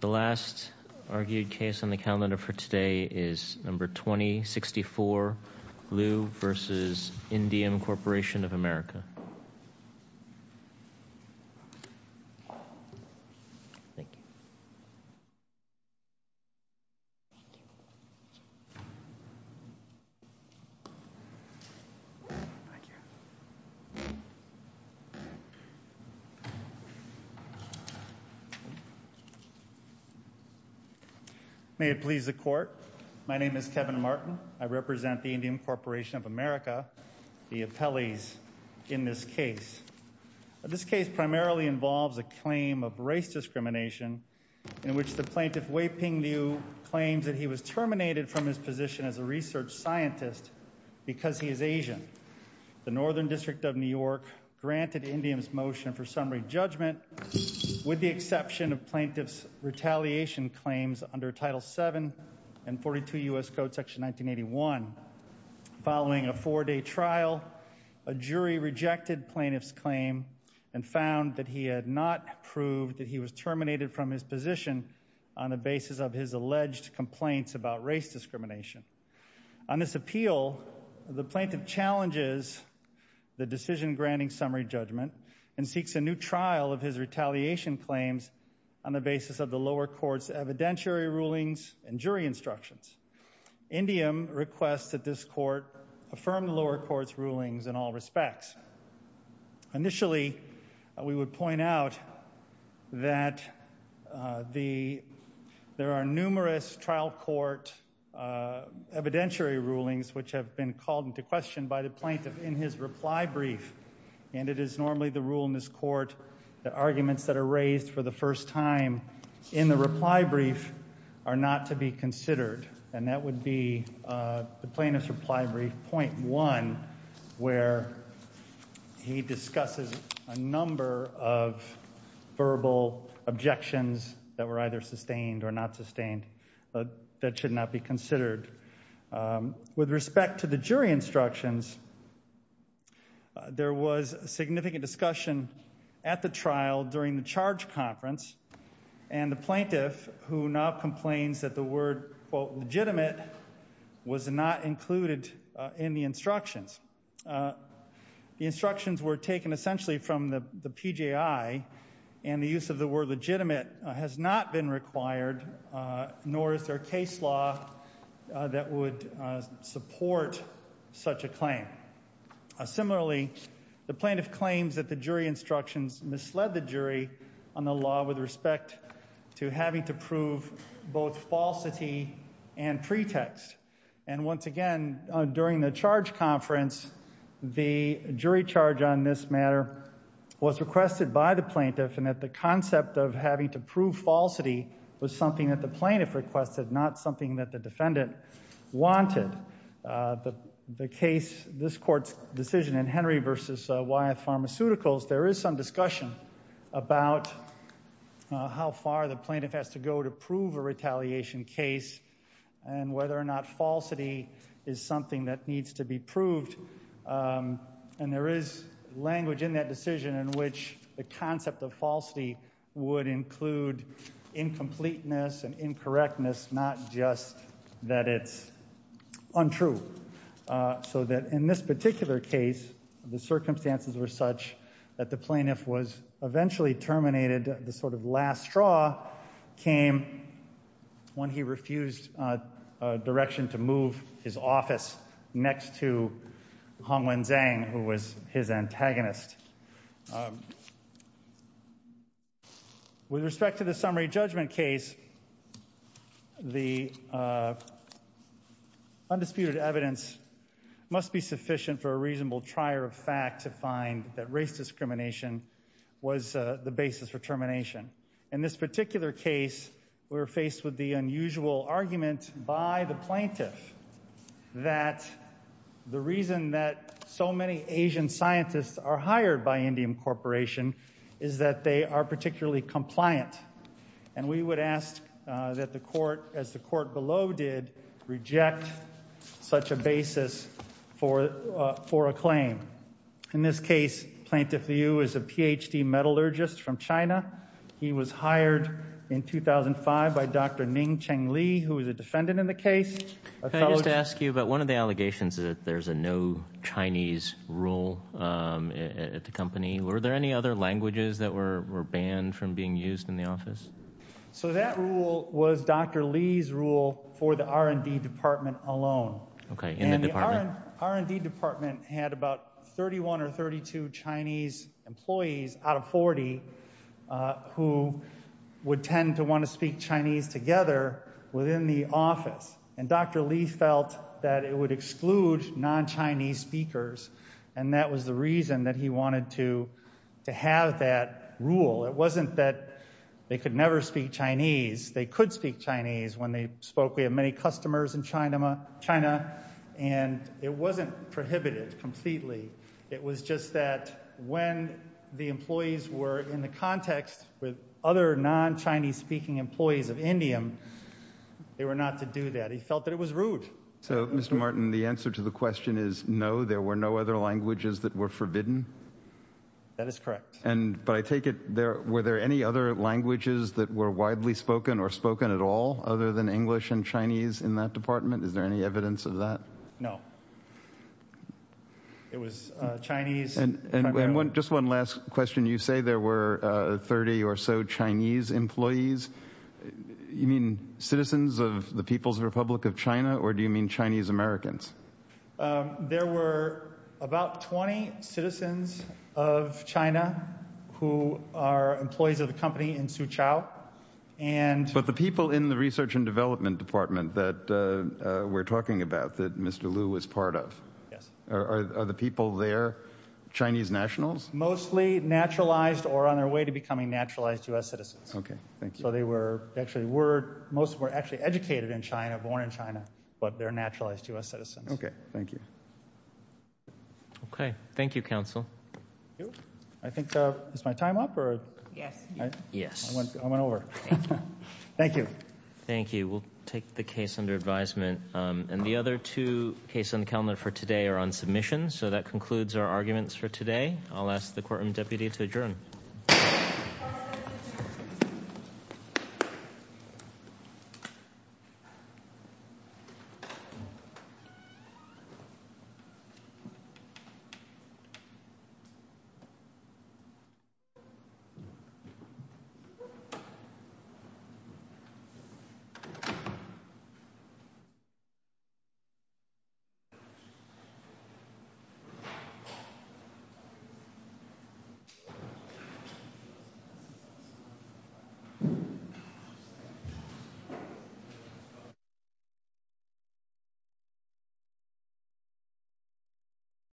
The last argued case on the calendar for today is number 2064, Liu versus Indium Corporation of America. Thank you. May it please the court. My name is Kevin Martin. I represent the Indium Corporation of America, the appellees in this case. This case primarily involves a claim of race discrimination in which the plaintiff Wei Ping Liu claims that he was terminated from his position as a research scientist because he is Asian. The Northern District of New York granted Indium's motion for summary judgment with the exception of plaintiff's retaliation claims under Title VII and 42 U.S. Code Section 1981. Following a four-day trial, a jury rejected plaintiff's claim and found that he had not proved that he was terminated from his position on the basis of his alleged complaints about race discrimination. On this appeal, the plaintiff challenges the decision granting summary judgment and seeks a new trial of his retaliation claims on the basis of the lower court's evidentiary rulings and jury instructions. Indium requests that this court affirm the lower court's rulings in all respects. Initially, we would point out that there are numerous trial court evidentiary rulings which have been called into question by the plaintiff in his reply brief and it is normally the rule in this court that arguments that are raised for the first time in the reply brief are not to be considered and that would be the plaintiff's reply brief point one where he discusses a number of verbal objections that were either sustained or not sustained that should not be considered. With respect to the jury instructions, there was significant discussion at the trial during the charge conference and the plaintiff, who now complains that the word, quote, legitimate, was not included in the instructions. The instructions were taken essentially from the PJI and the use of the word legitimate has not been required nor is there a case law that would support such a claim. Similarly, the plaintiff claims that the jury instructions misled the jury on the law with respect to having to prove both falsity and pretext and once again, during the charge conference, the jury charge on this matter was requested by the plaintiff and that the concept of having to prove falsity was something that the plaintiff requested, not something that the defendant wanted. The case, this court's decision in Henry v. Wyeth Pharmaceuticals, there is some discussion about how far the plaintiff has to go to prove a retaliation case and whether or not falsity is something that needs to be proved and there is language in that decision in which the concept of falsity would include incompleteness and incorrectness, not just that it's untrue. So that in this particular case, the circumstances were such that the plaintiff was eventually terminated. The sort of last straw came when he refused direction to move his office next to Hong Wen-Zhang who was his antagonist. With respect to the summary judgment case, the undisputed evidence must be sufficient for a reasonable trier of fact to find that race discrimination was the basis for termination. In this particular case, we were faced with the unusual argument by the plaintiff that the reason that so many Asian scientists are hired by Indium Corporation is that they are particularly compliant and we would ask that the court, as the court below did, reject such a basis for a claim. In this case, Plaintiff Liu is a Ph.D. metallurgist from China. He was hired in 2005 by Dr. Ning Cheng-Li who is a defendant in the case. Can I just ask you about one of the allegations that there's a no Chinese rule at the company. Were there any other languages that were banned from being used in the office? So that rule was Dr. Li's rule for the R&D department alone. And the R&D department had about 31 or 32 Chinese employees out of 40 who would tend to want to speak Chinese together within the office. And Dr. Li felt that it would exclude non-Chinese speakers and that was the reason that he wanted to have that rule. It wasn't that they could never speak Chinese. They could speak Chinese when they spoke. We have many customers in China and it wasn't prohibited completely. It was just that when the employees were in the context with other non-Chinese speaking employees of Indium, they were not to do that. He felt that it was rude. So Mr. Martin, the answer to the question is no, there were no other languages that were forbidden? That is correct. But I take it, were there any other languages that were widely spoken or spoken at all other than English and Chinese in that department? Is there any evidence of that? No. It was Chinese primarily. And just one last question. You say there were 30 or so Chinese employees. You mean citizens of the People's Republic of China or do you mean Chinese Americans? There were about 20 citizens of China who are employees of the company in Suzhou. But the people in the research and development department that we're talking about, that Mr. Liu was part of, are the people there Chinese nationals? Mostly naturalized or on their way to becoming naturalized U.S. citizens. Okay. Thank you. So they were actually educated in China, born in China, but they're naturalized U.S. citizens. Okay. Thank you. Okay. Thank you, counsel. I think is my time up? Yes. I went over. Thank you. Thank you. We'll take the case under advisement. And the other two cases on the calendar for today are on submission. So that concludes our arguments for today. I'll ask the courtroom deputy to adjourn. Thank you. Thank you.